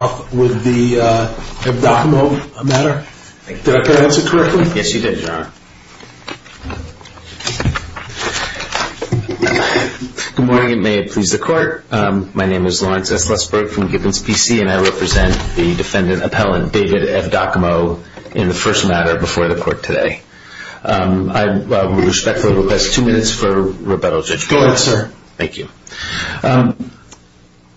Good morning and may it please the court. My name is Lawrence S. Lesburg from Gibbons, B.C. and I represent the defendant appellant, David Evdokimow, in the first matter before the court today. I would respectfully request two minutes for rebuttal, Judge. Go ahead, sir. Thank you.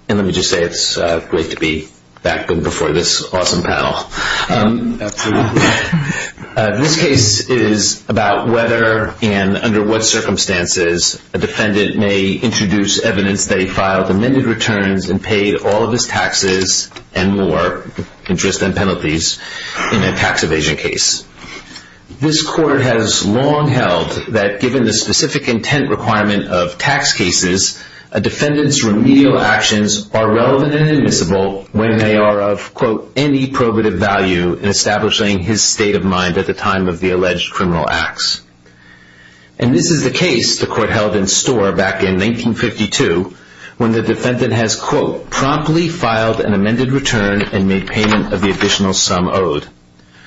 Let me just say it's great to be back before this awesome panel. This case is about whether and under what circumstances a defendant may introduce evidence they filed amended returns and paid all of his taxes and more, interest and penalties, in a tax evasion case. This court has long held that given the specific intent requirement of tax evasion cases, a defendant's remedial actions are relevant and admissible when they are of, quote, any probative value in establishing his state of mind at the time of the alleged criminal acts. And this is the case the court held in Storr back in 1952 when the defendant has, quote, promptly filed an amended return and made payment of the additional sum owed.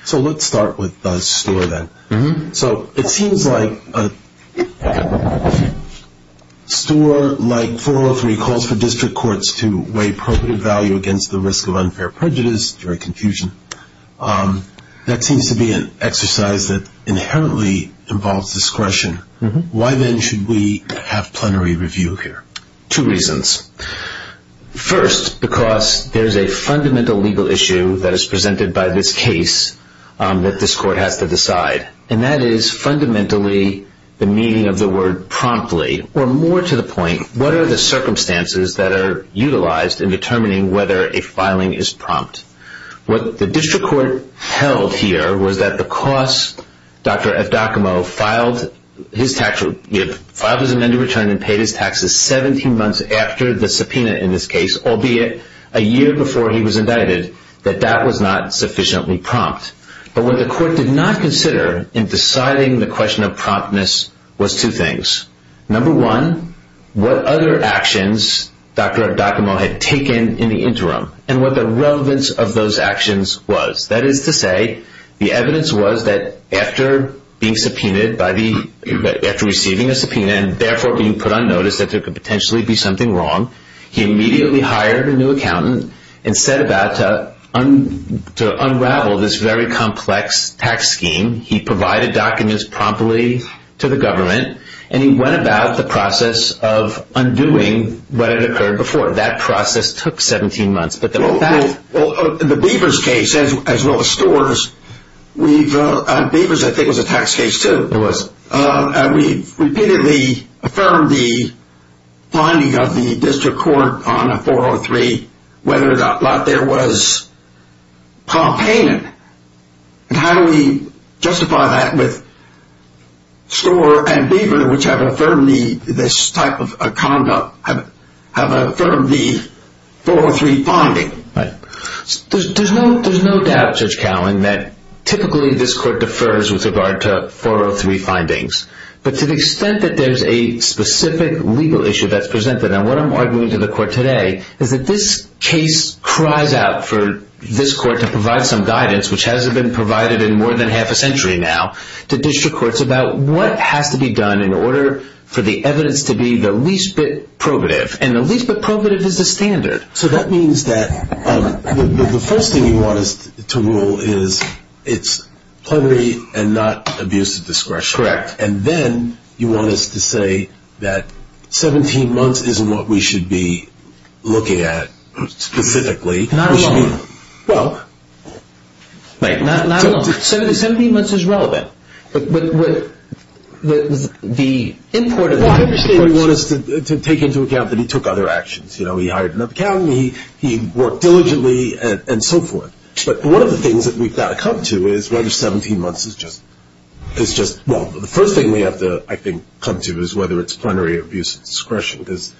So let's start with Storr then. So it seems like Storr, like 403, calls for district courts to weigh probative value against the risk of unfair prejudice, jury confusion. That seems to be an exercise that inherently involves discretion. Why then should we have plenary review here? Two reasons. First, because there is a fundamental legal issue that is presented by this case that this court has to decide. And that is fundamentally the meaning of the word promptly. Or more to the point, what are the circumstances that are utilized in determining whether a filing is prompt? What the district court held here was that because Dr. F. Docomo filed his amended return and paid his taxes 17 months after the subpoena in this case, albeit a year before he was indicted, that that was not sufficiently prompt. But what the court did not consider in deciding the question of promptness was two things. Number one, what other actions Dr. Docomo had taken in the interim and what the relevance of those actions was. That is to say, the evidence was that after being subpoenaed by the, after receiving a subpoena and therefore being put on notice that there could potentially be something wrong, he immediately hired a new accountant and set about to unravel this very complex tax scheme. He provided documents promptly to the government and he went about the process of undoing what had occurred before. That process took 17 months. Well, in the Beavers case, as well as Storrs, Beavers I think was a tax case too. It was. And we repeatedly affirmed the finding of the district court on a 403 whether or not there was prompt payment. And how do we justify that with Storrs and Beavers, which have affirmed the, this type of conduct, have affirmed the 403 finding? Right. There's no doubt, Judge Cowen, that typically this court defers with regard to the 403 findings. But to the extent that there's a specific legal issue that's presented, and what I'm arguing to the court today, is that this case cries out for this court to provide some guidance, which hasn't been provided in more than half a century now, to district courts about what has to be done in order for the evidence to be the least bit probative. And the least bit probative is the standard. So that means that the first thing you want us to rule is it's plenary and not abuse of discretion. Correct. And then you want us to say that 17 months isn't what we should be looking at specifically. Not alone. Well. Not alone. 17 months is relevant. But the import of the 17 months... Well, I understand you want us to take into account that he took other actions. You know, he hired another accountant, he worked diligently, and so forth. But one of the things that we've got to come to is whether 17 months is just... Well, the first thing we have to, I think, come to is whether it's plenary or abuse of discretion. Because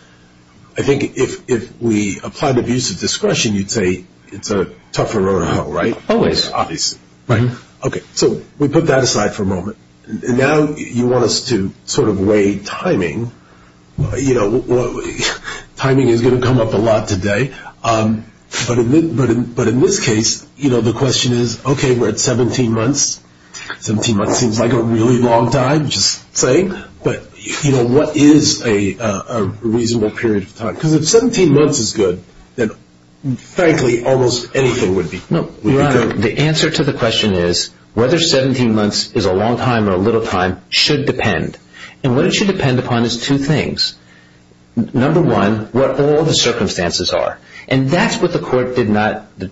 I think if we applied abuse of discretion, you'd say it's a tougher road to hoe, right? Always. Obviously. Right. Okay. So we put that aside for a moment. And now you want us to sort of weigh timing. You know, timing is going to come up a lot today. But in this case, the question is, okay, we're at 17 months. 17 months seems like a really long time, just saying. But what is a reasonable period of time? Because if 17 months is good, then frankly, almost anything would be good. No. Right. The answer to the question is, whether 17 months is a long time or a little time should depend. And what it should depend upon is two things. Number one, what all the circumstances are. And that's what the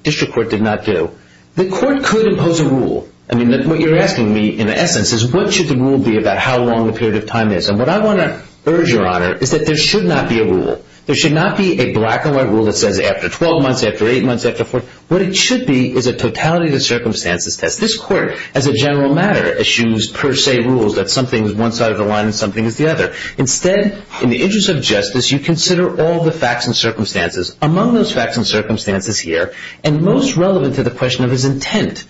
district court did not do. The court could impose a rule. I mean, what you're asking me, in essence, is what should the rule be about how long the period of time is? And what I want to urge, Your Honor, is that there should not be a rule. There should not be a black and white rule that says after 12 months, after 8 months, after 4... What it should be is a totality of the circumstances test. This court, as a general matter, issues per se rules that something is one side of the line and something is the other. Instead, in the interest of justice, you consider all the facts and circumstances. Among those facts and circumstances here, and most relevant to the question of his intent,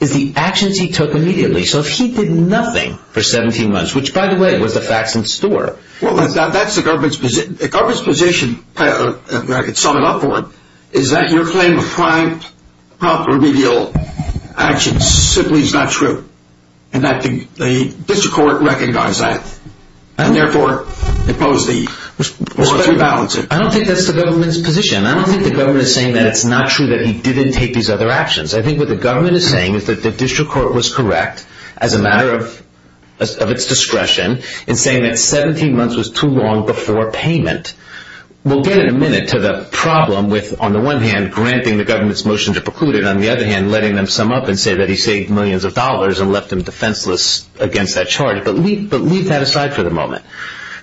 is the actions he took immediately. So if he did nothing for 17 months, which, by the way, was the facts in store... Well, that's the government's position. The government's position, if I could sum it up for you, Your Honor, is that your claim of 5 proper remedial actions simply is not true. And I think the district court recognizes that. And therefore, imposed the... I don't think that's the government's position. I don't think the government is saying that it's not true that he didn't take these other actions. I think what the government is saying is that the district court was correct, as a matter of its discretion, in saying that on the one hand, granting the government's motion to preclude it. On the other hand, letting them sum up and say that he saved millions of dollars and left them defenseless against that charge. But leave that aside for the moment.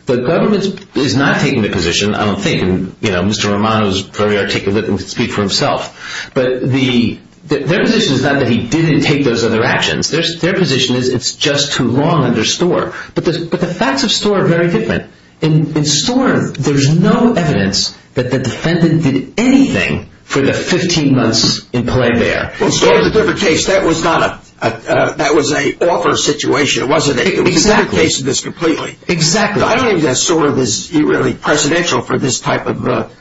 The government is not taking the position, I don't think, and Mr. Romano is very articulate and can speak for himself, but their position is not that he didn't take those other actions. Their position is it's just too long under store. But the facts of store are very different. In store, there's no evidence that the defendant did anything for the 15 months in play there. Well, store is a different case. That was not a... That was an offer situation, wasn't it? Exactly. It was a different case than this completely. Exactly. I don't think that store is really precedential for this type of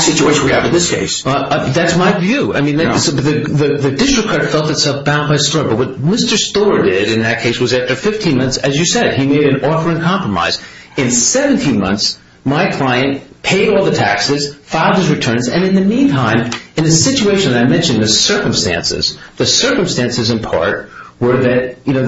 situation we have in this case. That's my view. I mean, the district court felt itself bound by store. But what Mr. Store did in that case was after 15 months, as you said, he made an offer in compromise. In 17 months, my client paid all the taxes, filed his returns, and in the meantime, in the situation I mentioned, the circumstances, the circumstances in part were that, you know,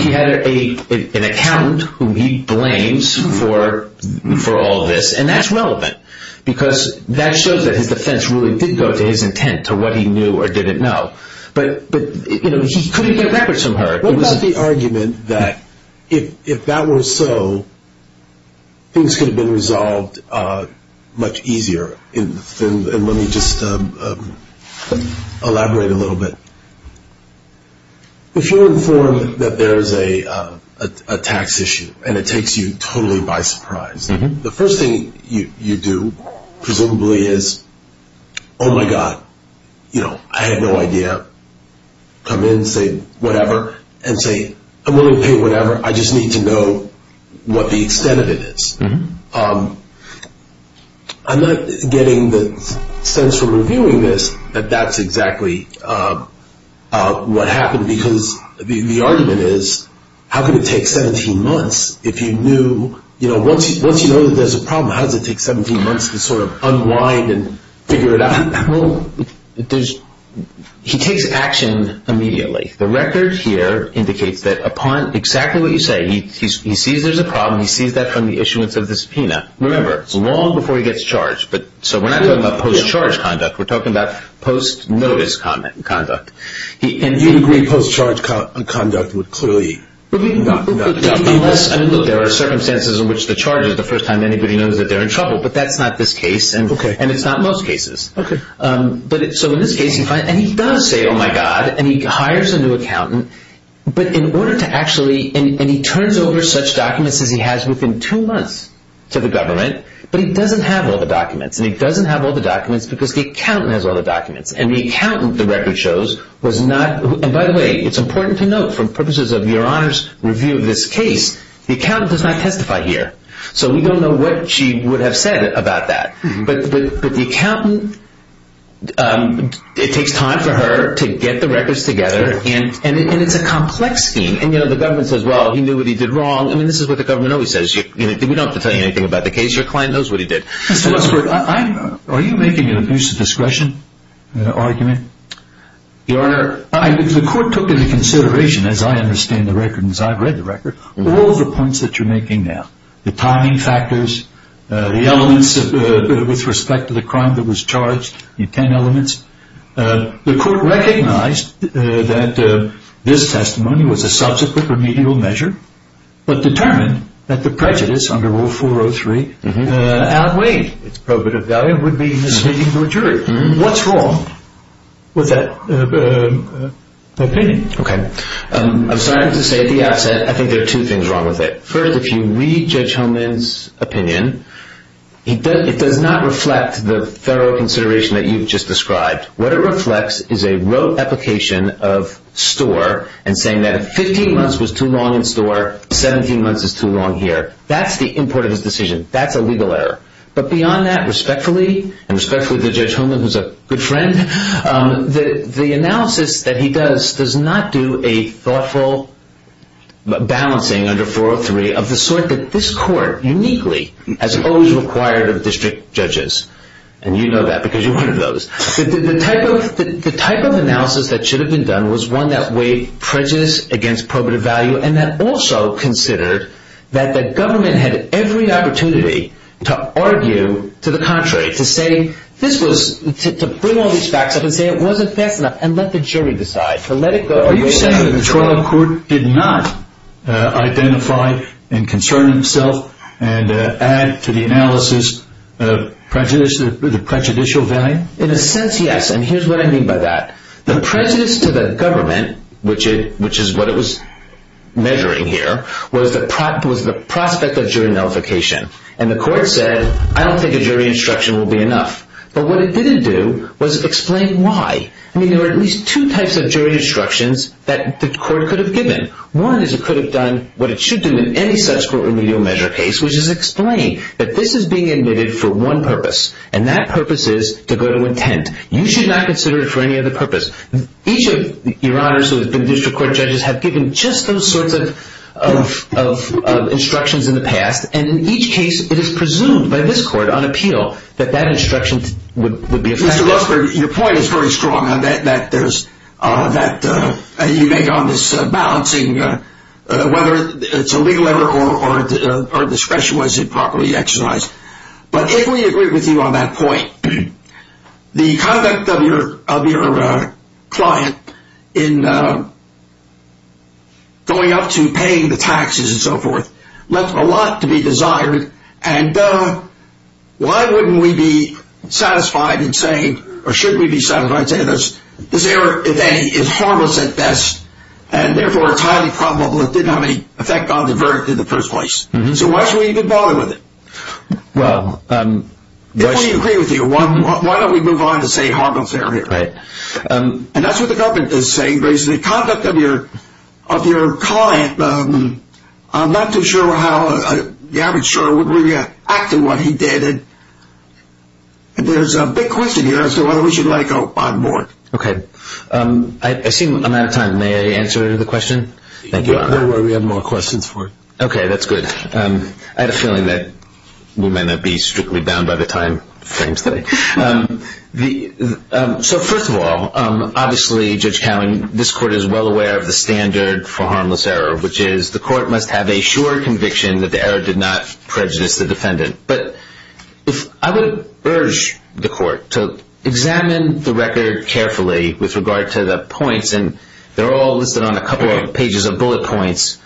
he had an accountant whom he blames for all this, and that's relevant. Because that shows that his defense really did go to his intent, to what he knew or didn't know. But, you know, he couldn't get records from her. What about the argument that if that were so, things could have been resolved much easier? And let me just elaborate a little bit. If you're informed that there's a tax issue, and it takes you totally by surprise, the first thing you do, presumably, is, oh my God, you know, I had no idea. Come in, say whatever, and say, I'm willing to pay whatever, I just need to know what the extent of it is. I'm not getting the sense from reviewing this that that's exactly what happened, because the argument is, how could it take 17 months if you knew, you know, once you know that there's a problem, how does it take 17 months to sort of unwind and figure it out? Well, he takes action immediately. The record here indicates that upon exactly what you say, he sees there's a problem, he sees that from the issuance of the subpoena, remember, long before he gets charged. So we're not talking about post-charge conduct, we're talking about post-notice conduct. And you'd agree post-charge conduct would clearly not... Unless there are circumstances in which the charges, the first time anybody knows that they're in trouble, but that's not this case, and it's not most cases. So in this case, and he does say, oh my God, and he hires a new accountant, but in order to actually, and he turns over such documents as he has within two months to the government, but he doesn't have all the documents. And he doesn't have all the documents because the accountant has all the documents. And the accountant, the record shows, was not... And by the way, it's important to note, for purposes of your Honor's review of this case, the accountant does not testify here. So we don't know what she would have said about that. But the accountant, it takes time for her to get the records together, and it's a complex scheme. And the government says, well, he knew what he did wrong. I mean, this is what the government always says, we don't have to tell you anything about the case, your client knows what he did. Mr. Westbrook, are you making an abuse of discretion argument? Your Honor... The court took into consideration, as I understand the record and as I've read the record, all of the points that you're making now. The timing factors, the elements with respect to the crime that was charged, the 10 elements. The court recognized that this testimony was a subsequent remedial measure, but determined that the prejudice under Rule 403 outweighed its probative value. It would be misleading to a jury. What's wrong with that opinion? Okay. I'm sorry to say at the outset, I think there are two things wrong with it. First, if you read Judge Holman's opinion, it does not reflect the thorough consideration that you've just described. What it reflects is a rote application of STOR and saying that 15 months was too long in STOR, 17 months is too long here. That's the import of his decision. That's a legal error. But beyond that, respectfully, and respectfully to Judge Holman, who's a good friend, the analysis that he does does not do a thoughtful balancing under 403 of the sort that this court uniquely has always required of district judges. And you know that because you're one of those. The type of analysis that should have been done was one that weighed prejudice against probative value and that also considered that the government had every opportunity to argue to the contrary, to bring all these facts up and say it wasn't fast enough and let the jury decide. Are you saying that the trial court did not identify and concern itself and add to the analysis the prejudicial value? In a sense, yes. And here's what I mean by that. The prejudice to the government, which is what it was measuring here, was the prospect of jury nullification. And the court said, I don't think a jury instruction will be enough. But what it didn't do was explain why. I mean, there were at least two types of jury instructions that the court could have given. One is it could have done what it should do in any such court remedial measure case, which is explain that this is being admitted for one purpose. And that purpose is to go to intent. You should not consider it for any other purpose. Each of your honors, who have been district court judges, have given just those sorts of instructions in the past. And in each case, it is presumed by this court on appeal that that instruction would be effective. Mr. Lusker, your point is very strong that you make on this balancing, whether it's a legal error or discretion was improperly exercised. But if we agree with you on that point, the conduct of your client in going up to paying the taxes and so forth left a lot to be desired. And why wouldn't we be satisfied in saying, or should we be satisfied in saying, this error, if any, is harmless at best. And therefore, it's highly probable it didn't have any effect on the verdict in the first place. So why should we even bother with it? Well, um... If we agree with you, why don't we move on to say harmless error? Right. And that's what the government is saying. The conduct of your client, I'm not too sure how the average juror would react to what he did. And there's a big question here as to whether we should let it go on board. Okay. I see I'm out of time. May I answer the question? Thank you, Your Honor. Don't worry, we have more questions for you. Okay, that's good. I had a feeling that we might not be strictly bound by the timeframes today. So first of all, obviously, Judge Cowen, this court is well aware of the standard for harmless error, which is the court must have a sure conviction that the error did not prejudice the defendant. But I would urge the court to examine the record carefully with regard to the points. And they're all listed on a couple of pages of bullet points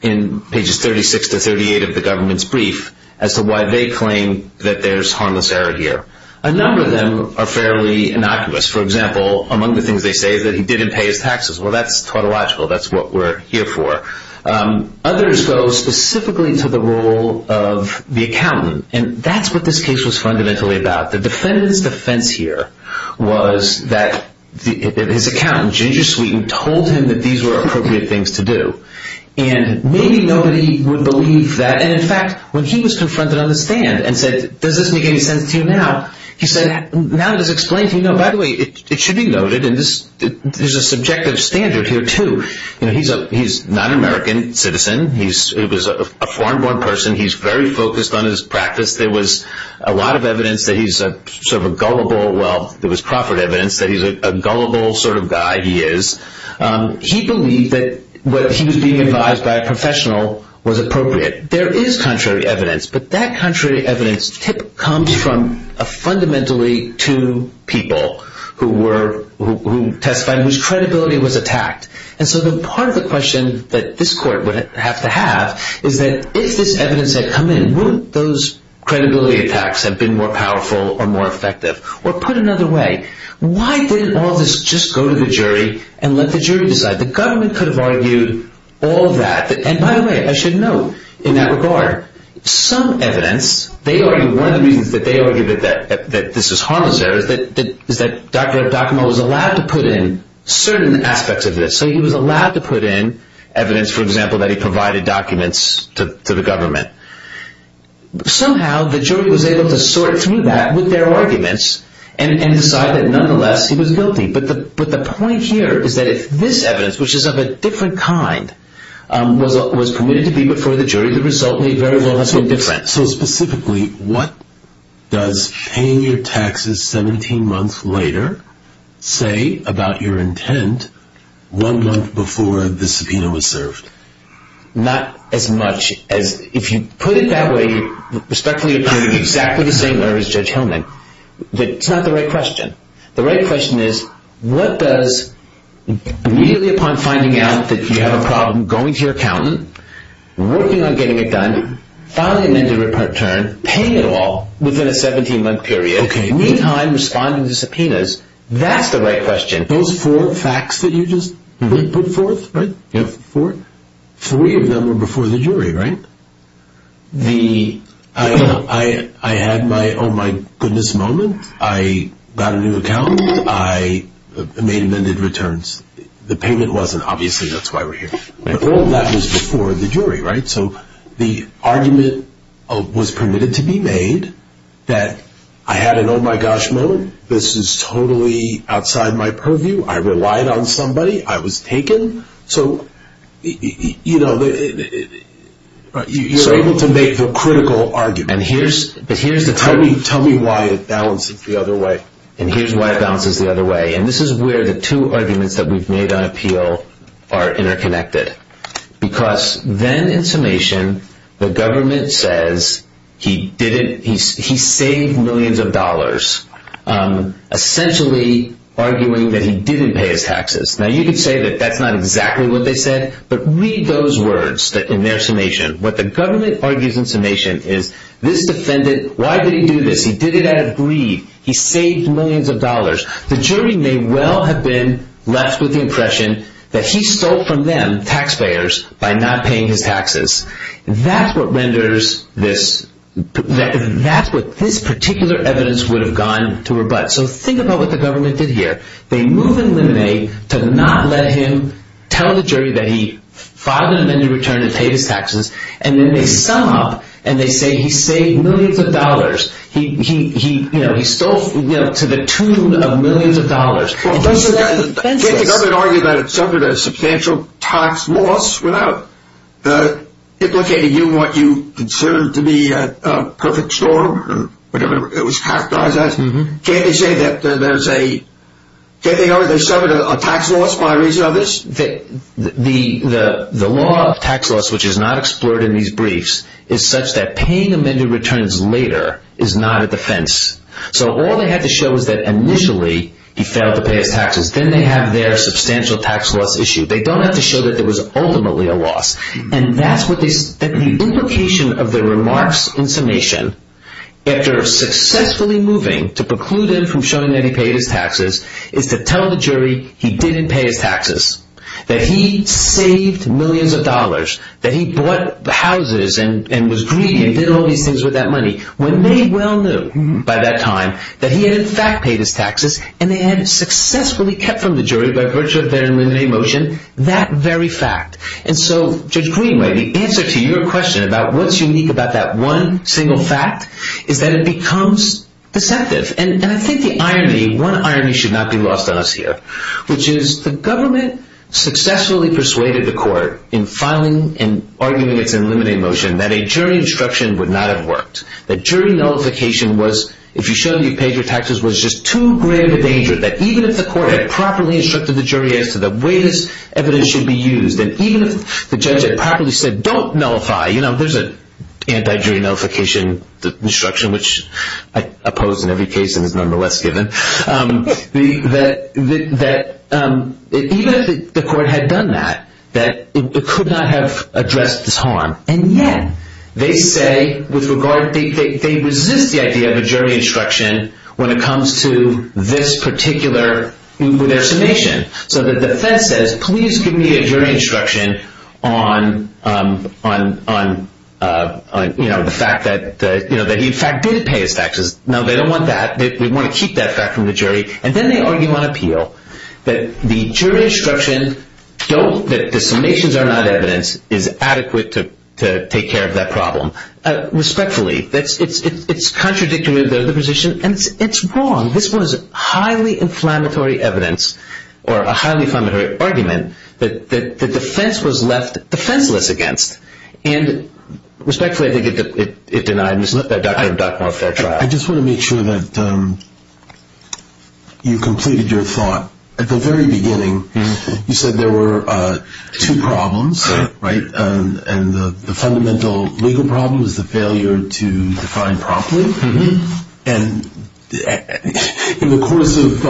in pages 36 to 38 of the government's brief as to why they claim that there's harmless error here. A number of them are fairly innocuous. For example, among the things they say is that he didn't pay his taxes. Well, that's tautological. That's what we're here for. Others go specifically to the role of the accountant. And that's what this case was fundamentally about. The defendant's defense here was that his accountant, Ginger Sweeten, told him that these were appropriate things to do. And maybe nobody would believe that. And in fact, when he was confronted on the stand and said, does this make any sense to you now? He said, now that it's explained to me, no, by the way, it should be noted. There's a subjective standard here, too. He's a non-American citizen. He was a foreign-born person. He's very focused on his practice. There was a lot of evidence that he's sort of a gullible. Well, there was proper evidence that he's a gullible sort of guy he is. He believed that what he was being advised by a professional was appropriate. There is contrary evidence. But that contrary evidence typically comes from fundamentally two people who testified and whose credibility was attacked. And so the part of the question that this court would have to have is that if this evidence had come in, wouldn't those credibility attacks have been more powerful or more effective? Or put another way, why didn't all this just go to the jury and let the jury decide? The government could have argued all that. And by the way, I should note in that regard, some evidence, one of the reasons that they argued that this was harmless there is that Dr. Docomo was allowed to put in certain aspects of this. So he was allowed to put in evidence, for example, that he provided documents to the government. Somehow the jury was able to sort through that with their arguments and decide that nonetheless he was guilty. But the point here is that if this evidence, which is of a different kind, was permitted to be before the jury, the result may very well have been different. So specifically, what does paying your taxes 17 months later say about your intent one month before the subpoena was served? Not as much as, if you put it that way, respectfully appearing exactly the same way as Judge Hillman, that's not the right question. The right question is, what does immediately upon finding out that you have a problem going to your accountant, working on getting it done, filing an end to return, paying it all within a 17 month period, meantime responding to subpoenas, that's the right question. Those four facts that you just put forth, three of them were before the jury, right? I had my oh my goodness moment, I got a new accountant, I made amended returns. The payment wasn't, obviously, that's why we're here. But all that was before the jury, right? So the argument was permitted to be made that I had an oh my gosh moment, this is totally outside my purview, I relied on somebody, I was taken. So, you know, you're able to make the critical argument. Tell me why it balances the other way. And here's why it balances the other way. And this is where the two arguments that we've made on appeal are interconnected. Because then in summation, the government says he saved millions of dollars, essentially arguing that he didn't pay his taxes. Now you could say that that's not exactly what they said, but read those words in their summation. What the government argues in summation is this defendant, why did he do this? He did it out of greed. He saved millions of dollars. The jury may well have been left with the impression that he stole from them, the taxpayers, by not paying his taxes. That's what renders this, that's what this particular evidence would have gone to rebut. So think about what the government did here. They move in limine to not let him tell the jury that he filed an amended return and paid his taxes. And then they sum up and they say he saved millions of dollars. He stole to the tune of millions of dollars. Can't the government argue that it suffered a substantial tax loss without implicating you in what you consider to be a perfect storm, whatever it was characterized as? Can't they say that there's a, can't they argue that there's suffered a tax loss by reason of this? The law of tax loss, which is not explored in these briefs, is such that paying amended returns later is not a defense. So all they have to show is that initially he failed to pay his taxes. Then they have their substantial tax loss issue. They don't have to show that there was ultimately a loss. And that's what they, the implication of the remarks in summation, after successfully moving to preclude him from showing that he paid his taxes, is to tell the jury he didn't pay his taxes. That he saved millions of dollars. That he bought houses and was greedy and did all these things with that money. When they well knew, by that time, that he had in fact paid his taxes and they had successfully kept from the jury, by virtue of their eliminating motion, that very fact. And so, Judge Greenway, the answer to your question about what's unique about that one single fact is that it becomes deceptive. And I think the irony, one irony should not be lost on us here, which is the government successfully persuaded the court in filing, in arguing its eliminating motion, that a jury instruction would not have worked. That jury nullification was, if you showed that you paid your taxes, was just too great of a danger. That even if the court had properly instructed the jury as to the way this evidence should be used, and even if the judge had properly said, don't nullify, you know, there's an anti-jury nullification instruction, which I oppose in every case and is nonetheless given, that even if the court had done that, that it could not have addressed this harm. And yet, they say, with regard, they resist the idea of a jury instruction when it comes to this particular, with their summation. So the defense says, please give me a jury instruction on, you know, the fact that he in fact did pay his taxes. No, they don't want that. They want to keep that fact from the jury. And then they argue on appeal that the jury instruction, that the summations are not evidence, is adequate to take care of that problem. Respectfully, it's contradictory to the position, and it's wrong. This was highly inflammatory evidence, or a highly inflammatory argument, that the defense was left defenseless against. And respectfully, I think it denies the doctrine of a fair trial. I just want to make sure that you completed your thought. At the very beginning, you said there were two problems, right? And the fundamental legal problem is the failure to define properly. And in the course of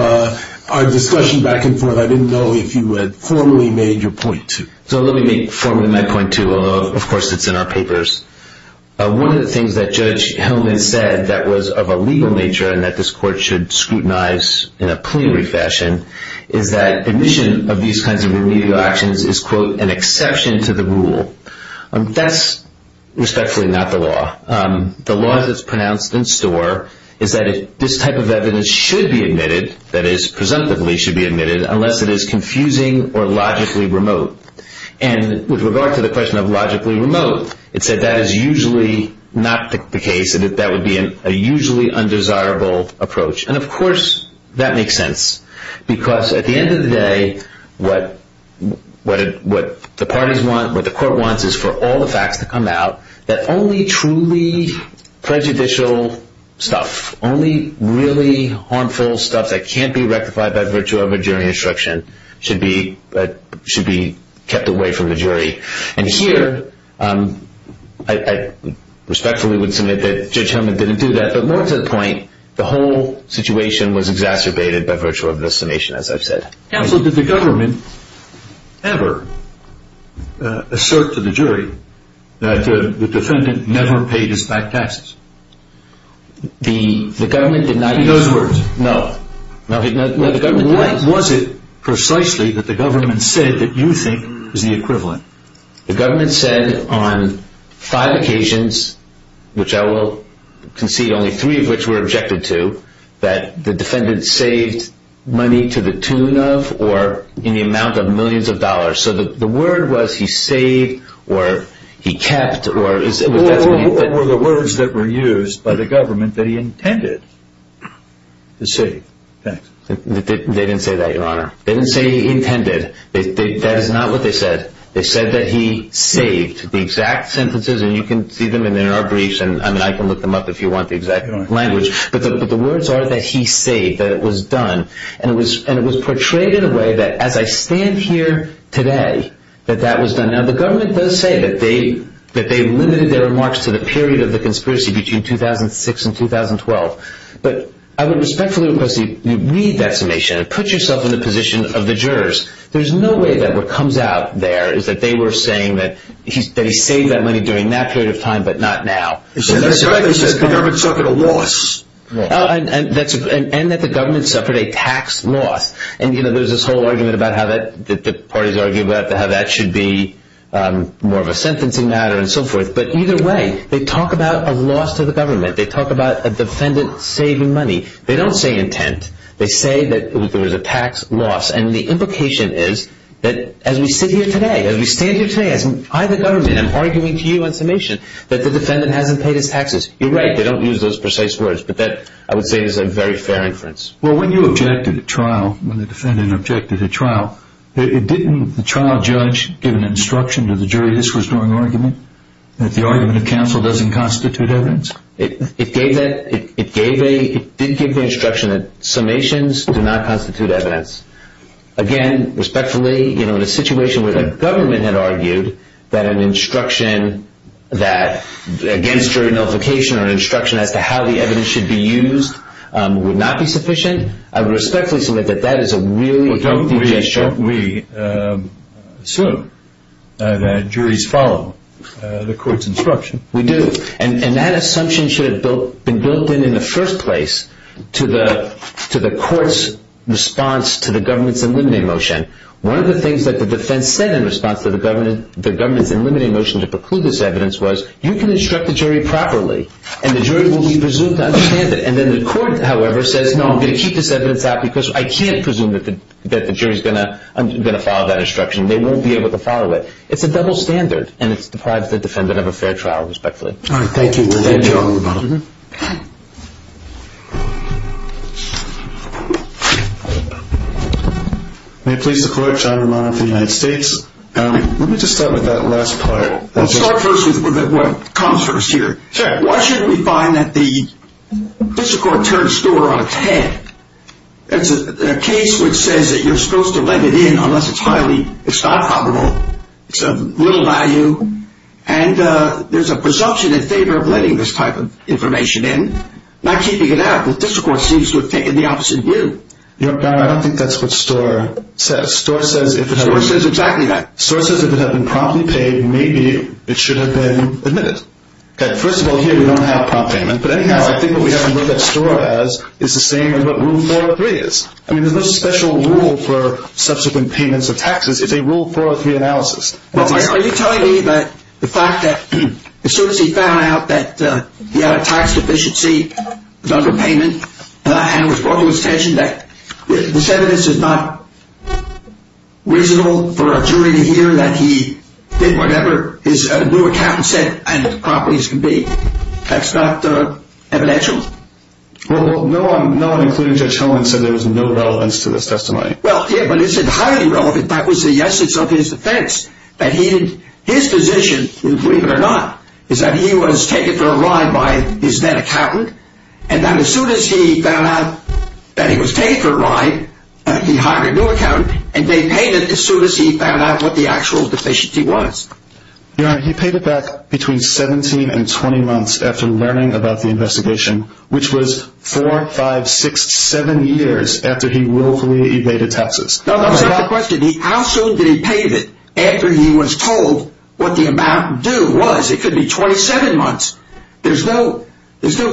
our discussion back and forth, I didn't know if you had formally made your point, too. So let me make formally my point, too, although of course it's in our papers. One of the things that Judge Hellman said that was of a legal nature, and that this court should scrutinize in a plenary fashion, is that admission of these kinds of remedial actions is, quote, an exception to the rule. That's respectfully not the law. The law that's pronounced in store is that this type of evidence should be admitted, that is, presumptively should be admitted, unless it is confusing or logically remote. And with regard to the question of logically remote, it said that is usually not the case, that that would be a usually undesirable approach. And of course, that makes sense. Because at the end of the day, what the parties want, what the court wants, is for all the facts to come out, that only truly prejudicial stuff, only really harmful stuff that can't be rectified by virtue of a jury instruction should be kept away from the jury. And here, I respectfully would submit that Judge Hellman didn't do that. But more to the point, the whole situation was exacerbated by virtue of this summation, as I've said. Counsel, did the government ever assert to the jury that the defendant never paid his back taxes? The government did not... In those words? No. What was it precisely that the government said that you think is the equivalent? The government said on five occasions, which I will concede only three of which were objected to, that the defendant saved money to the tune of or in the amount of millions of dollars. So the word was he saved or he kept... Or the words that were used by the government that he intended to save. They didn't say that, Your Honor. They didn't say he intended. That is not what they said. They said that he saved. The exact sentences, and you can see them in our briefs, and I can look them up if you want the exact language. But the words are that he saved, that it was done. And it was portrayed in a way that as I stand here today, that that was done. Now, the government does say that they limited their remarks to the period of the conspiracy between 2006 and 2012. But I would respectfully request that you read that summation and put yourself in the position of the jurors. There is no way that what comes out there is that they were saying that they saved that money during that period of time, but not now. The government suffered a loss. And that the government suffered a tax loss. And, you know, there is this whole argument that the parties argue about how that should be more of a sentencing matter and so forth. But either way, they talk about a loss to the government. They talk about a defendant saving money. They don't say intent. They say that there was a tax loss. And the implication is that as we sit here today, as we stand here today, as I, the government, am arguing to you on summation, that the defendant hasn't paid his taxes. You're right, they don't use those precise words. But that, I would say, is a very fair inference. Well, when you objected at trial, when the defendant objected at trial, didn't the trial judge give an instruction to the jury this was during argument? That the argument of counsel doesn't constitute evidence? It did give the instruction that summations do not constitute evidence. Again, respectfully, you know, in a situation where the government had argued that an instruction against jury notification or an instruction as to how the evidence should be used would not be sufficient, I would respectfully submit that that is a really healthy gesture. Well, don't we assume that juries follow the court's instruction? We do. And that assumption should have been built in in the first place to the court's response to the government's eliminating motion. One of the things that the defense said in response to the government's eliminating motion to preclude this evidence was you can instruct the jury properly and the jury will be presumed to understand it. And then the court, however, says, no, I'm going to keep this evidence out because I can't presume that the jury's going to follow that instruction. They won't be able to follow it. It's a double standard. And it deprives the defendant of a fair trial, respectfully. All right, thank you. Thank you all very much. Thank you. May it please the Court, John Romano for the United States. Let me just start with that last part. I'll start first with what comes first here. Sure. Why shouldn't we find that the district court turned a score on its head? It's a case which says that you're supposed to let it in unless it's highly, it's not probable, it's of little value. And there's a presumption in favor of letting this type of information in, not keeping it out. The district court seems to have taken the opposite view. I don't think that's what Storer says. Storer says if it had been promptly paid, maybe it should have been admitted. First of all, here we don't have prompt payment. But anyhow, I think what we have to look at Storer as is the same as what Rule 403 is. I mean, there's no special rule for subsequent payments of taxes. It's a Rule 403 analysis. Are you telling me that the fact that as soon as he found out that he had a tax deficiency, a double payment, and it was brought to his attention that the evidence is not reasonable for a jury to hear that he did whatever his new accountant said and that the properties can be. That's not evidential? Well, no one, including Judge Howland, said there was no relevance to this testimony. Well, yeah, but he said highly relevant. That was the essence of his defense. His position, believe it or not, is that he was taken for a ride by his then accountant, and that as soon as he found out that he was taken for a ride, he hired a new accountant, and they paid it as soon as he found out what the actual deficiency was. Your Honor, he paid it back between 17 and 20 months after learning about the investigation, which was 4, 5, 6, 7 years after he willfully evaded taxes. No, that's not the question. How soon did he pay it after he was told what the amount due was? It could be 27 months. There's no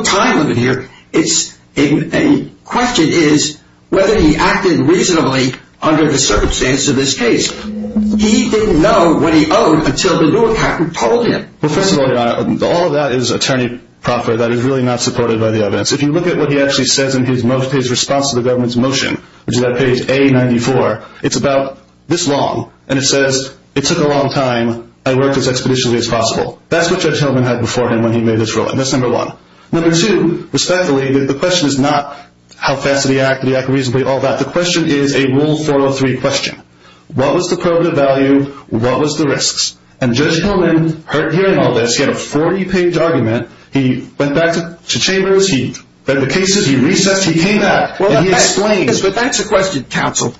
time limit here. The question is whether he acted reasonably under the circumstances of this case. He didn't know what he owed until the new accountant told him. Well, first of all, Your Honor, all of that is attorney proffer that is really not supported by the evidence. If you look at what he actually says in his response to the government's motion, which is on page A94, it's about this long, and it says, it took a long time, I worked as expeditiously as possible. That's what Judge Hillman had before him when he made this ruling. That's number one. Number two, respectfully, the question is not how fast did he act, did he act reasonably, all that. The question is a Rule 403 question. What was the probative value? What was the risks? And Judge Hillman heard hearing all this, he had a 40-page argument, he went back to Chambers, he read the cases, he recessed, he came back, and he explained. But that's the question, counsel.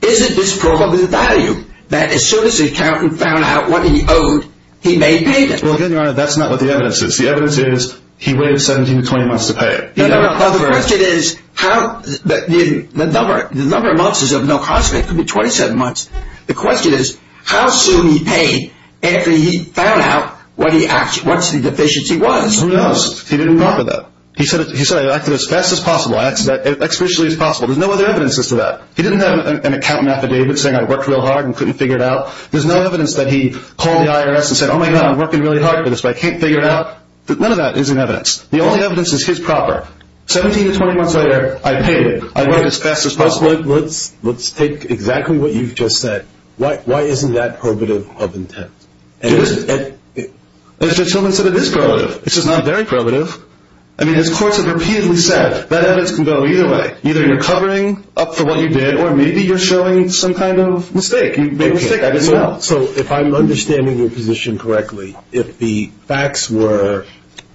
Isn't this probative value, that as soon as the accountant found out what he owed, he made payment? Well, again, Your Honor, that's not what the evidence is. The evidence is, he waited 17 to 20 months to pay. No, no, no. The question is, the number of months is of no consequence, it could be 27 months. The question is, how soon did he pay, after he found out what the deficiency was? Who knows? He didn't offer that. He said, I acted as fast as possible, as expeditiously as possible. There's no other evidence as to that. He didn't have an accountant affidavit saying I worked real hard and couldn't figure it out. There's no evidence that he called the IRS and said, oh my God, I'm working really hard for this, but I can't figure it out. None of that is in evidence. The only evidence is his proper. 17 to 20 months later, I paid. I worked as fast as possible. Let's take exactly what you've just said. Why isn't that probative of intent? Judge Hillman said it is probative. It's just not very probative. I mean, his courts have repeatedly said that evidence can go either way. Either you're covering up for what you did, or maybe you're showing some kind of mistake. You made a mistake. I didn't know. So if I'm understanding your position correctly, if the facts were,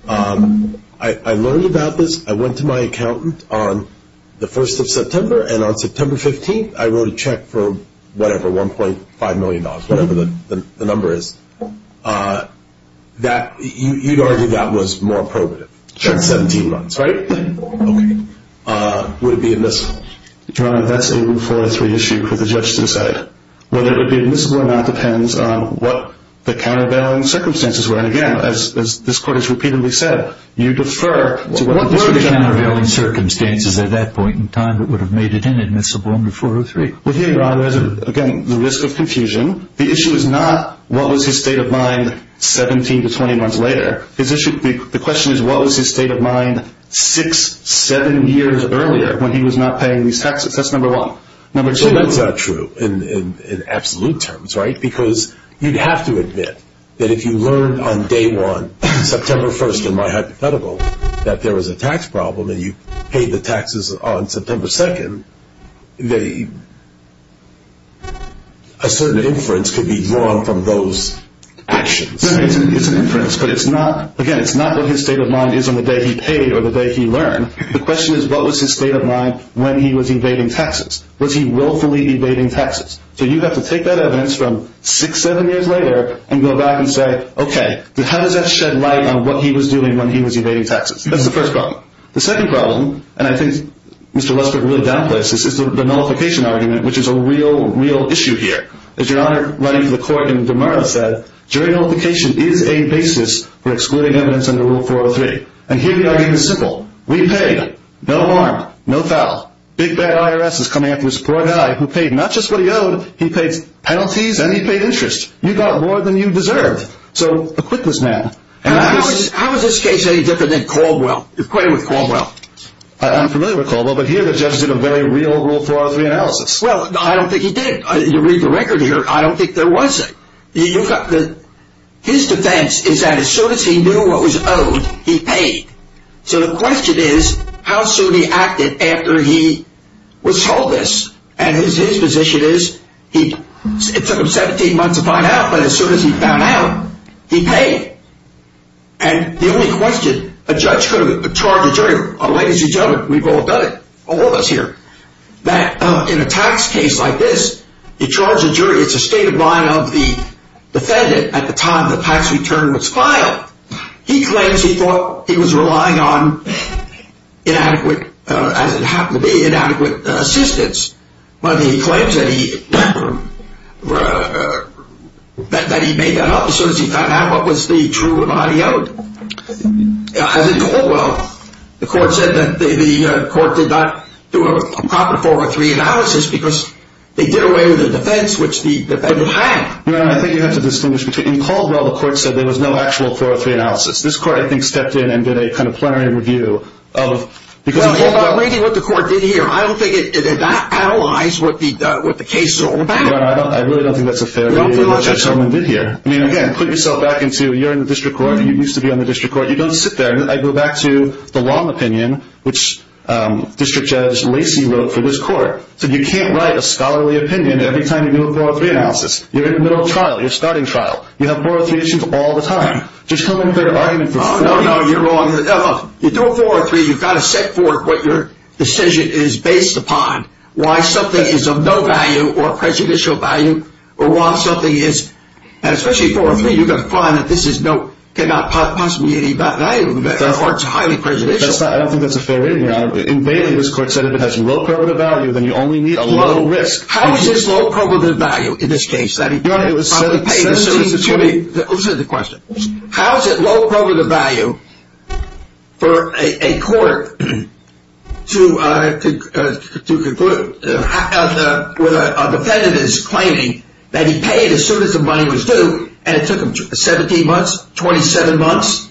I learned about this, I went to my accountant on the 1st of September, and on September 15th, I wrote a check for whatever, $1.5 million, whatever the number is, you'd argue that was more probative. In 17 months, right? Right. Okay. Would it be admissible? Your Honor, that's a 403 issue for the judge to decide. Whether it would be admissible or not depends on what the countervailing circumstances were. And again, as this court has repeatedly said, you defer to what were the countervailing circumstances at that point in time that would have made it inadmissible under 403. Well, here, Your Honor, there's, again, the risk of confusion. The issue is not what was his state of mind 17 to 20 months later. The question is what was his state of mind six, seven years earlier when he was not paying these taxes. That's number one. Number two... Well, that's not true in absolute terms, right? Because you'd have to admit that if you learned on day one, September 1st, in my hypothetical, that there was a tax problem and you paid the taxes on September 2nd, that a certain inference could be drawn from those actions. It's an inference, but it's not, again, it's not what his state of mind is on the day he paid or the day he learned. The question is what was his state of mind when he was evading taxes? Was he willfully evading taxes? So you'd have to take that evidence from six, seven years later and go back and say, okay, how does that shed light on what he was doing when he was evading taxes? That's the first problem. The second problem, and I think Mr. Lester can really downplay this, is the nullification argument, which is a real, real issue here. As Your Honor ran into the court and DeMaria said, jury nullification is a basis for excluding evidence into Rule 403. And here the argument is simple. We paid. No harm, no foul. Big bad IRS is coming after this poor guy who paid not just what he owed, he paid penalties and he paid interest. You got more than you deserved. So acquit this man. How is this case any different than Caldwell? Acquit him with Caldwell. I'm familiar with Caldwell, but here the judge did a very real Rule 403 analysis. Well, I don't think he did. You read the record here, I don't think there was it. His defense is that as soon as he knew what was owed, he paid. So the question is, how soon he acted after he was told this? And his position is, it took him 17 months to find out, but as soon as he found out, he paid. And the only question, a judge could have charged a jury, ladies and gentlemen, we've all done it, all of us here, you charge a jury, it's a state of mind of the defendant at the time of the tax return was made. It's a state of mind of the defendant at the time of the defendant's trial. He claims he thought he was relying on inadequate, as it happened to be, inadequate assistance. But he claims that he, that he made that up as soon as he found out what was the true amount he owed. As in Caldwell, the court said that the court did not do a proper Rule 403 analysis because they did away with the defense which the defendant had. Well, I think you have to distinguish between Caldwell, the court said there was no adequate assistance and there was no actual 403 analysis. This court, I think, stepped in and did a kind of plenary review of, because of Caldwell. Well, I'm not making what the court did here. I don't think that allies what the case is all about. Well, I don't, I really don't think that's a fair view of what Judge Solomon did here. I mean, again, put yourself back into, you're in the district court, you used to be on the district court, you don't sit there. I go back to the long opinion which District Judge Lacy wrote for this court. He said, you can't write a scholarly opinion every time you do a 403 analysis. You're in the middle of trial, you're starting trial. You have 403 issues all the time. Just come in with an argument for 403. Oh, no, you're wrong. You do a 403, you've got to set forth what your decision is based upon. Why something is of no value or prejudicial value or why something is, especially 403, you've got to find that this cannot possibly be any value or it's highly prejudicial. That's not, I don't think that's a fair reading, Your Honor. In Bailey, this court said if it has low probative value, then you only need a low risk. How is this low probative value in this case? Your Honor, it was 1720. Excuse me, listen to the question. How is it low probative value for a court to conclude when a defendant is claiming that he paid as soon as the money was due and it took him 17 months, 27 months?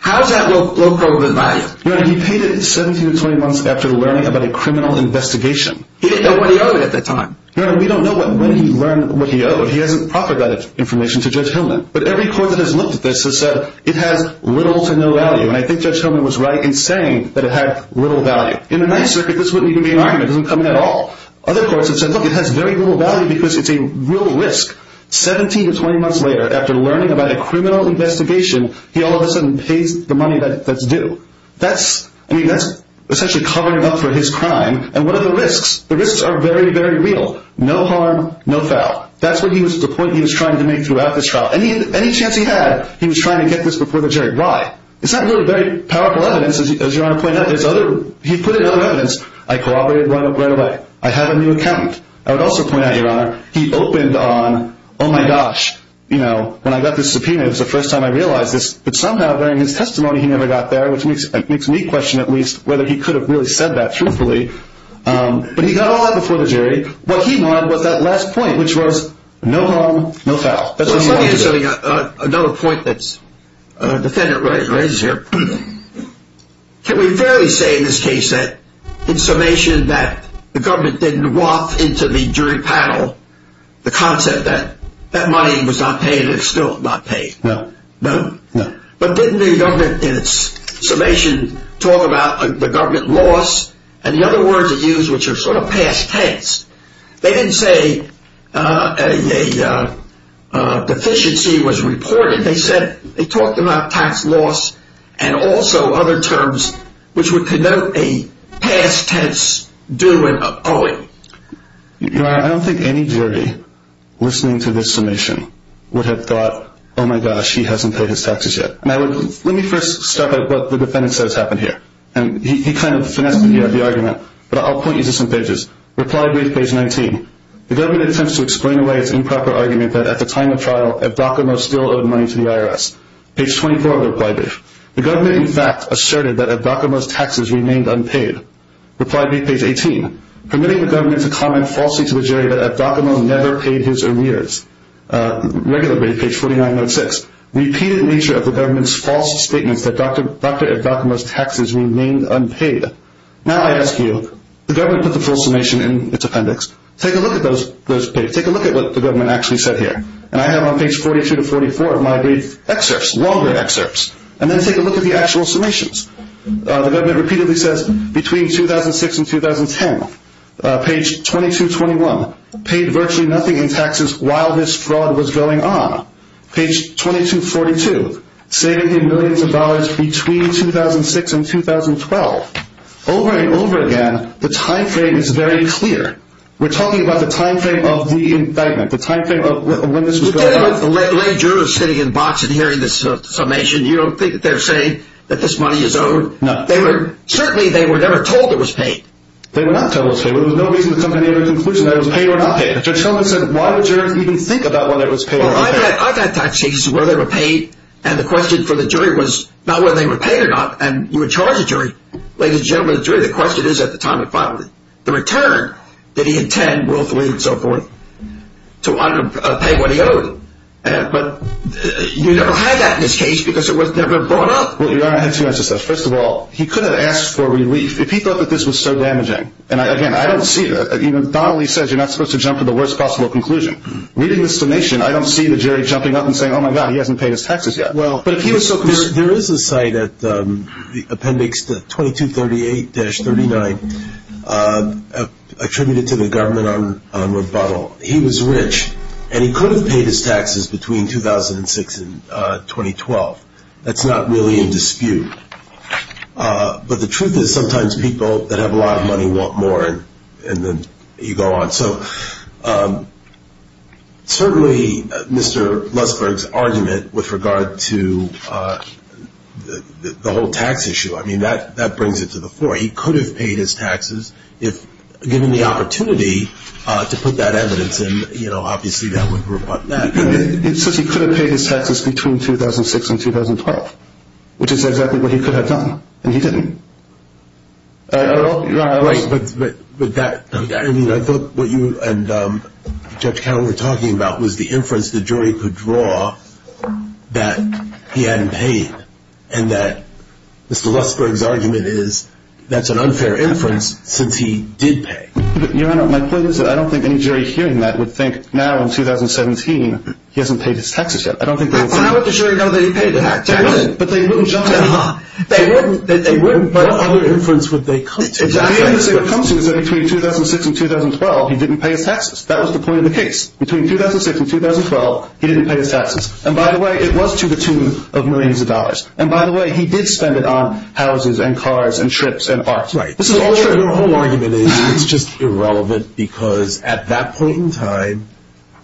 How is that low probative value? Your Honor, he paid it 17 to 20 months after learning about a criminal investigation. He didn't know what he owed at that time. Your Honor, we don't know when he learned what he owed. He hasn't proffered that information to Judge Hillman. But every court that has looked at this has said it has little to no value. And I think Judge Hillman was right in saying that it had little value. In the Ninth Circuit, this wouldn't even be an argument. It doesn't come in at all. Other courts have said, look, it has very little value because it's a real risk. 17 to 20 months later, after learning about a criminal investigation, he all of a sudden pays the money that's due. That's, I mean, that's essentially covering it up for his crime. And what are the risks? The risks are very, very real. No harm, no foul. That's the point he was trying to make throughout this trial. Any chance he had, he was trying to get this before the jury. Why? It's not really very powerful evidence, as Your Honor pointed out. He put in other evidence. I corroborated right away. I have a new account. I would also point out, Your Honor, he opened on, oh my gosh, when I got this subpoena, it was the first time I realized this. But somehow, during his testimony, he never got there, which makes me question, at least, whether he could have really said that truthfully. But he got all that before the jury. What he wanted was that last point, which was, no harm, no foul. Another point that the defendant raises here, can we fairly say in this case that, in summation, that the government didn't walk into the jury panel the concept that that money was not paid and it's still not paid? No. No? No. But didn't the government in its summation talk about the government loss and the other one the other words they use, which are sort of past tense. They didn't say a deficiency was reported. They said, they talked about tax loss and also other terms which would connote a past tense due and owing. You know, I don't think any jury listening to this summation would have thought, oh my gosh, he hasn't paid his taxes yet. And I would, let me first start by what the defendant says happened here. And he kind of finessed the argument. But I'll point you to some pages. Reply brief, page 19. The government attempts to explain away its improper argument that at the time of trial Evdokimo still owed money to the IRS. Page 24 of the reply brief. The government, in fact, asserted that Evdokimo's taxes remained unpaid. Reply brief, page 18. Permitting the government to comment falsely to the jury that Evdokimo never paid his arrears. Regular brief, page 4906. Repeated nature of the government's false statements that Dr. Evdokimo's taxes remained unpaid. Now I ask you, the government put the full summation in its appendix. Take a look at those pages. Take a look at what the government actually said here. And I have on page 42 to 44 of my brief excerpts, longer excerpts. And then take a look at the actual summations. The government repeatedly says between 2006 and 2010. Page 2221. Paid virtually nothing in taxes while this fraud was going on. Page 2242. Saving him millions of dollars between 2006 and 2012. Over and over again, the time frame is very clear. We're talking about the time frame of the indictment. The time frame of when this was going on. The lay juror sitting in the box and hearing this summation, you don't think that they're saying that this money is owed? No. Certainly they were never told it was paid. They were not told it was paid. There was no reason to come to any other conclusion that it was paid or not paid. Judge Shulman said why would jurors even think about whether it was paid or not paid? Well, I've had tax cases where they were paid and the question for the jury was not whether they were paid or not and you would charge the jury. Ladies and gentlemen of the jury, the question is at the time and finally, the return that he intended willfully and so forth to pay what he owed. But you never had that in this case because it was never brought up. Well, Your Honor, I have two answers to this. First of all, he could have asked for relief. If he thought that this was so damaging and again, I don't see that. Even Donnelly says you're not supposed to jump to the worst possible conclusion. Reading this donation, I don't see the jury jumping up and saying oh my God, he hasn't paid his taxes yet. Well, there is a site at the appendix 2238-39 attributed to the government on rebuttal. He was rich and he could have paid his taxes between 2006 and 2012. That's not really in dispute. But the truth is sometimes people that have a lot of money want more and then you go on. So, certainly Mr. Lustberg's argument with regard to the whole tax issue, I mean, that brings it to the fore. He could have paid his taxes if given the opportunity to put that on the record. He could have paid his taxes between 2006 and 2012 which is exactly what he could have done and he didn't. I mean, I thought what you and Judge Carroll were talking about was the inference the jury could draw that he hadn't paid and that Mr. Lustberg taxes until 2017. He hasn't paid his taxes yet. I don't think the jury knows that he paid his taxes but they wouldn't judge him. They wouldn't but what other inference would they come to? Exactly. The only thing say is that in 2006 and 2012 he didn't pay his taxes. And by the way, it was to the tune of millions of dollars. And by the way, he did spend it on houses and cars and trips and art. Right. The whole argument is it's just irrelevant because at that point in time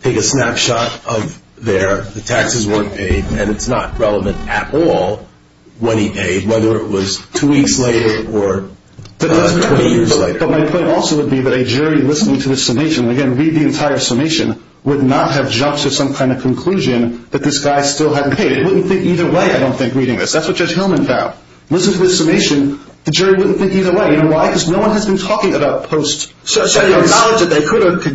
take a snapshot of there, the taxes weren't paid and it's not relevant at all when he paid, whether it was two weeks later or 20 years later. But my point also would be that a jury listening to this summation and again read the entire summation would not have jumped to some kind of conclusion that this guy still hadn't paid. It wouldn't think either way. I don't think reading this. That's what Judge Hillman found. Listening to this summation the jury wouldn't think either way. You know why? Because no one has been talking about post-taxes. So you don't the jury is going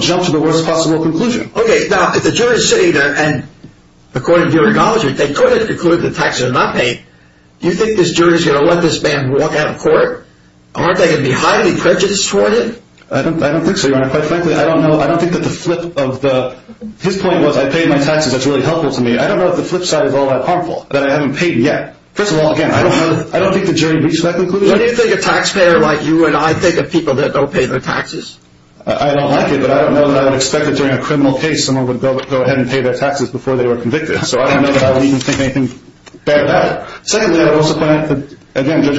to jump to the worst possible conclusion. If the jury is sitting there and they could have concluded the taxes are not paid, do you think this jury is going to let this man walk out of court? Aren't they going to be highly prejudiced toward it? I don't think so, Your Honor. His point was I paid my taxes, that's really helpful to me. I don't know if the flip side is all that harmful. I don't think the jury reached that conclusion. Do you think a taxpayer like you is going to pay their taxes? I don't like it, but I don't know that I would expect that during a criminal case someone would go ahead and pay their taxes before they were convicted, so I don't think anything bad about it. Secondly, I would also point out that I didn't know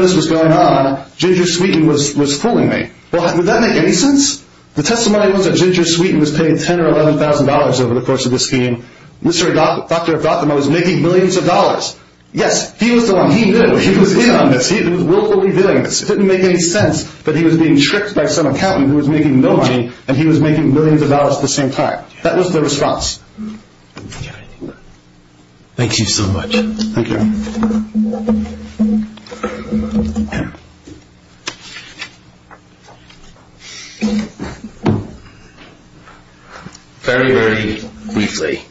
this was going on, Ginger Sweeten was fooling me. Would that make any sense? The testimony was that Ginger Sweeten was paying $10,000 or $11,000 over the course of this scheme. Mr. Dr. Gotham was making millions of dollars. Yes, he was in on this. It didn't make any sense that he was being tricked by some accountant who was making millions of dollars at the same time. That was the response. Thank you so much. Thank you. Very, very briefly.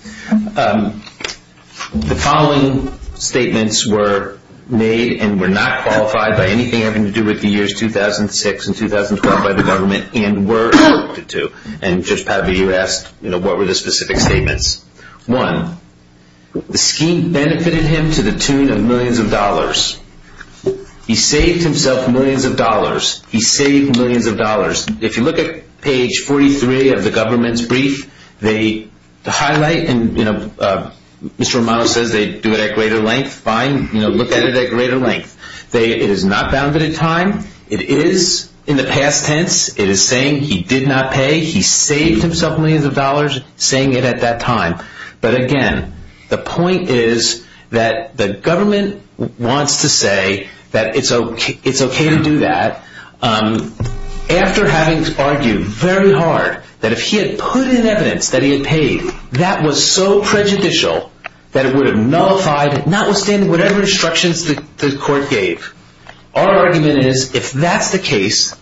The following testimony was made and was not qualified by anything having to do with the years 2006 and 2012 by the government. One, the scheme benefited him to the tune of millions of dollars. He saved himself millions of dollars. If you look at page 43 of the government's brief, the highlight, Mr. Romano says they do it at greater length. Look at it at greater length. It is not bounded in time. It is in the past tense. It is saying he did not pay. He saved himself millions of dollars by saying it at that time. The point is the government wants to say it is okay to do that after having argued very hard that if he had put in evidence that he had paid that was so prejudicial that it would have nullified whatever instructions the court gave. Our government wants to say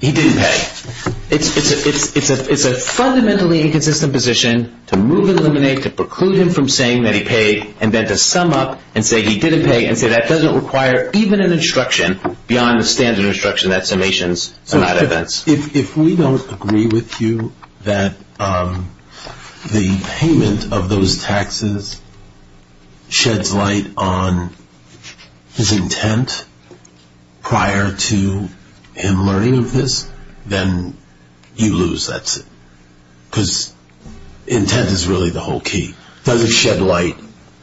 he didn't pay. It is a fundamentally inconsistent position to move and eliminate, to preclude him from saying he paid and then to sum up and say he didn't pay and say that doesn't require even an instruction beyond the standard instruction that summations are not fair. If you do him learning of this, then you lose, that's it. Because intent is really the whole key. Does it shed light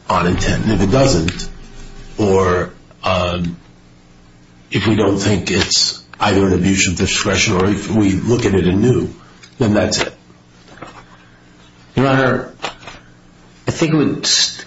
on intent? If it doesn't, or if we don't think it's either an abuse of discretion or if we look at it anew, then that's it. Your Honor, I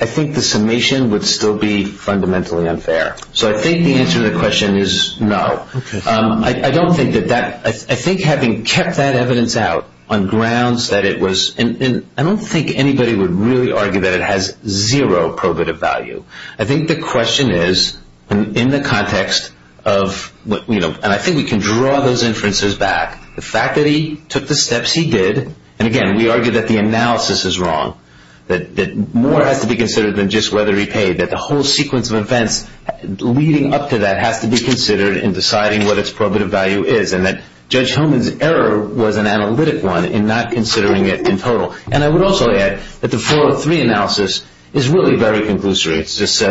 think the summation would still be fundamentally unfair. So I think the answer to the question is no. I don't think that that, I think having kept that evidence out on grounds that it was, and I don't think anybody would really argue that it has zero probative value. I think the question is, in the context of, you know, and I think we can draw those inferences back, the fact that he took the steps he did, and again, we argue that the analysis is wrong, that more has to be considered than just whether he paid, that the whole sequence of events leading up to that has to be considered in the context of the question I don't think that the analysis is wrong, that more has to be considered than just whether he paid, that the whole sequence of events leading up to that has to be considered in the context of the question I don't think that the that more has to be considered than just whether the whole sequence of events leading up to that has to be considered in the context of the question I don't think that the analysis considered in the context of the question I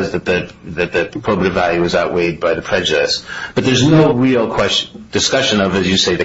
don't think that the whole sequence of events leading up to that has to be considered in the context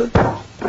of the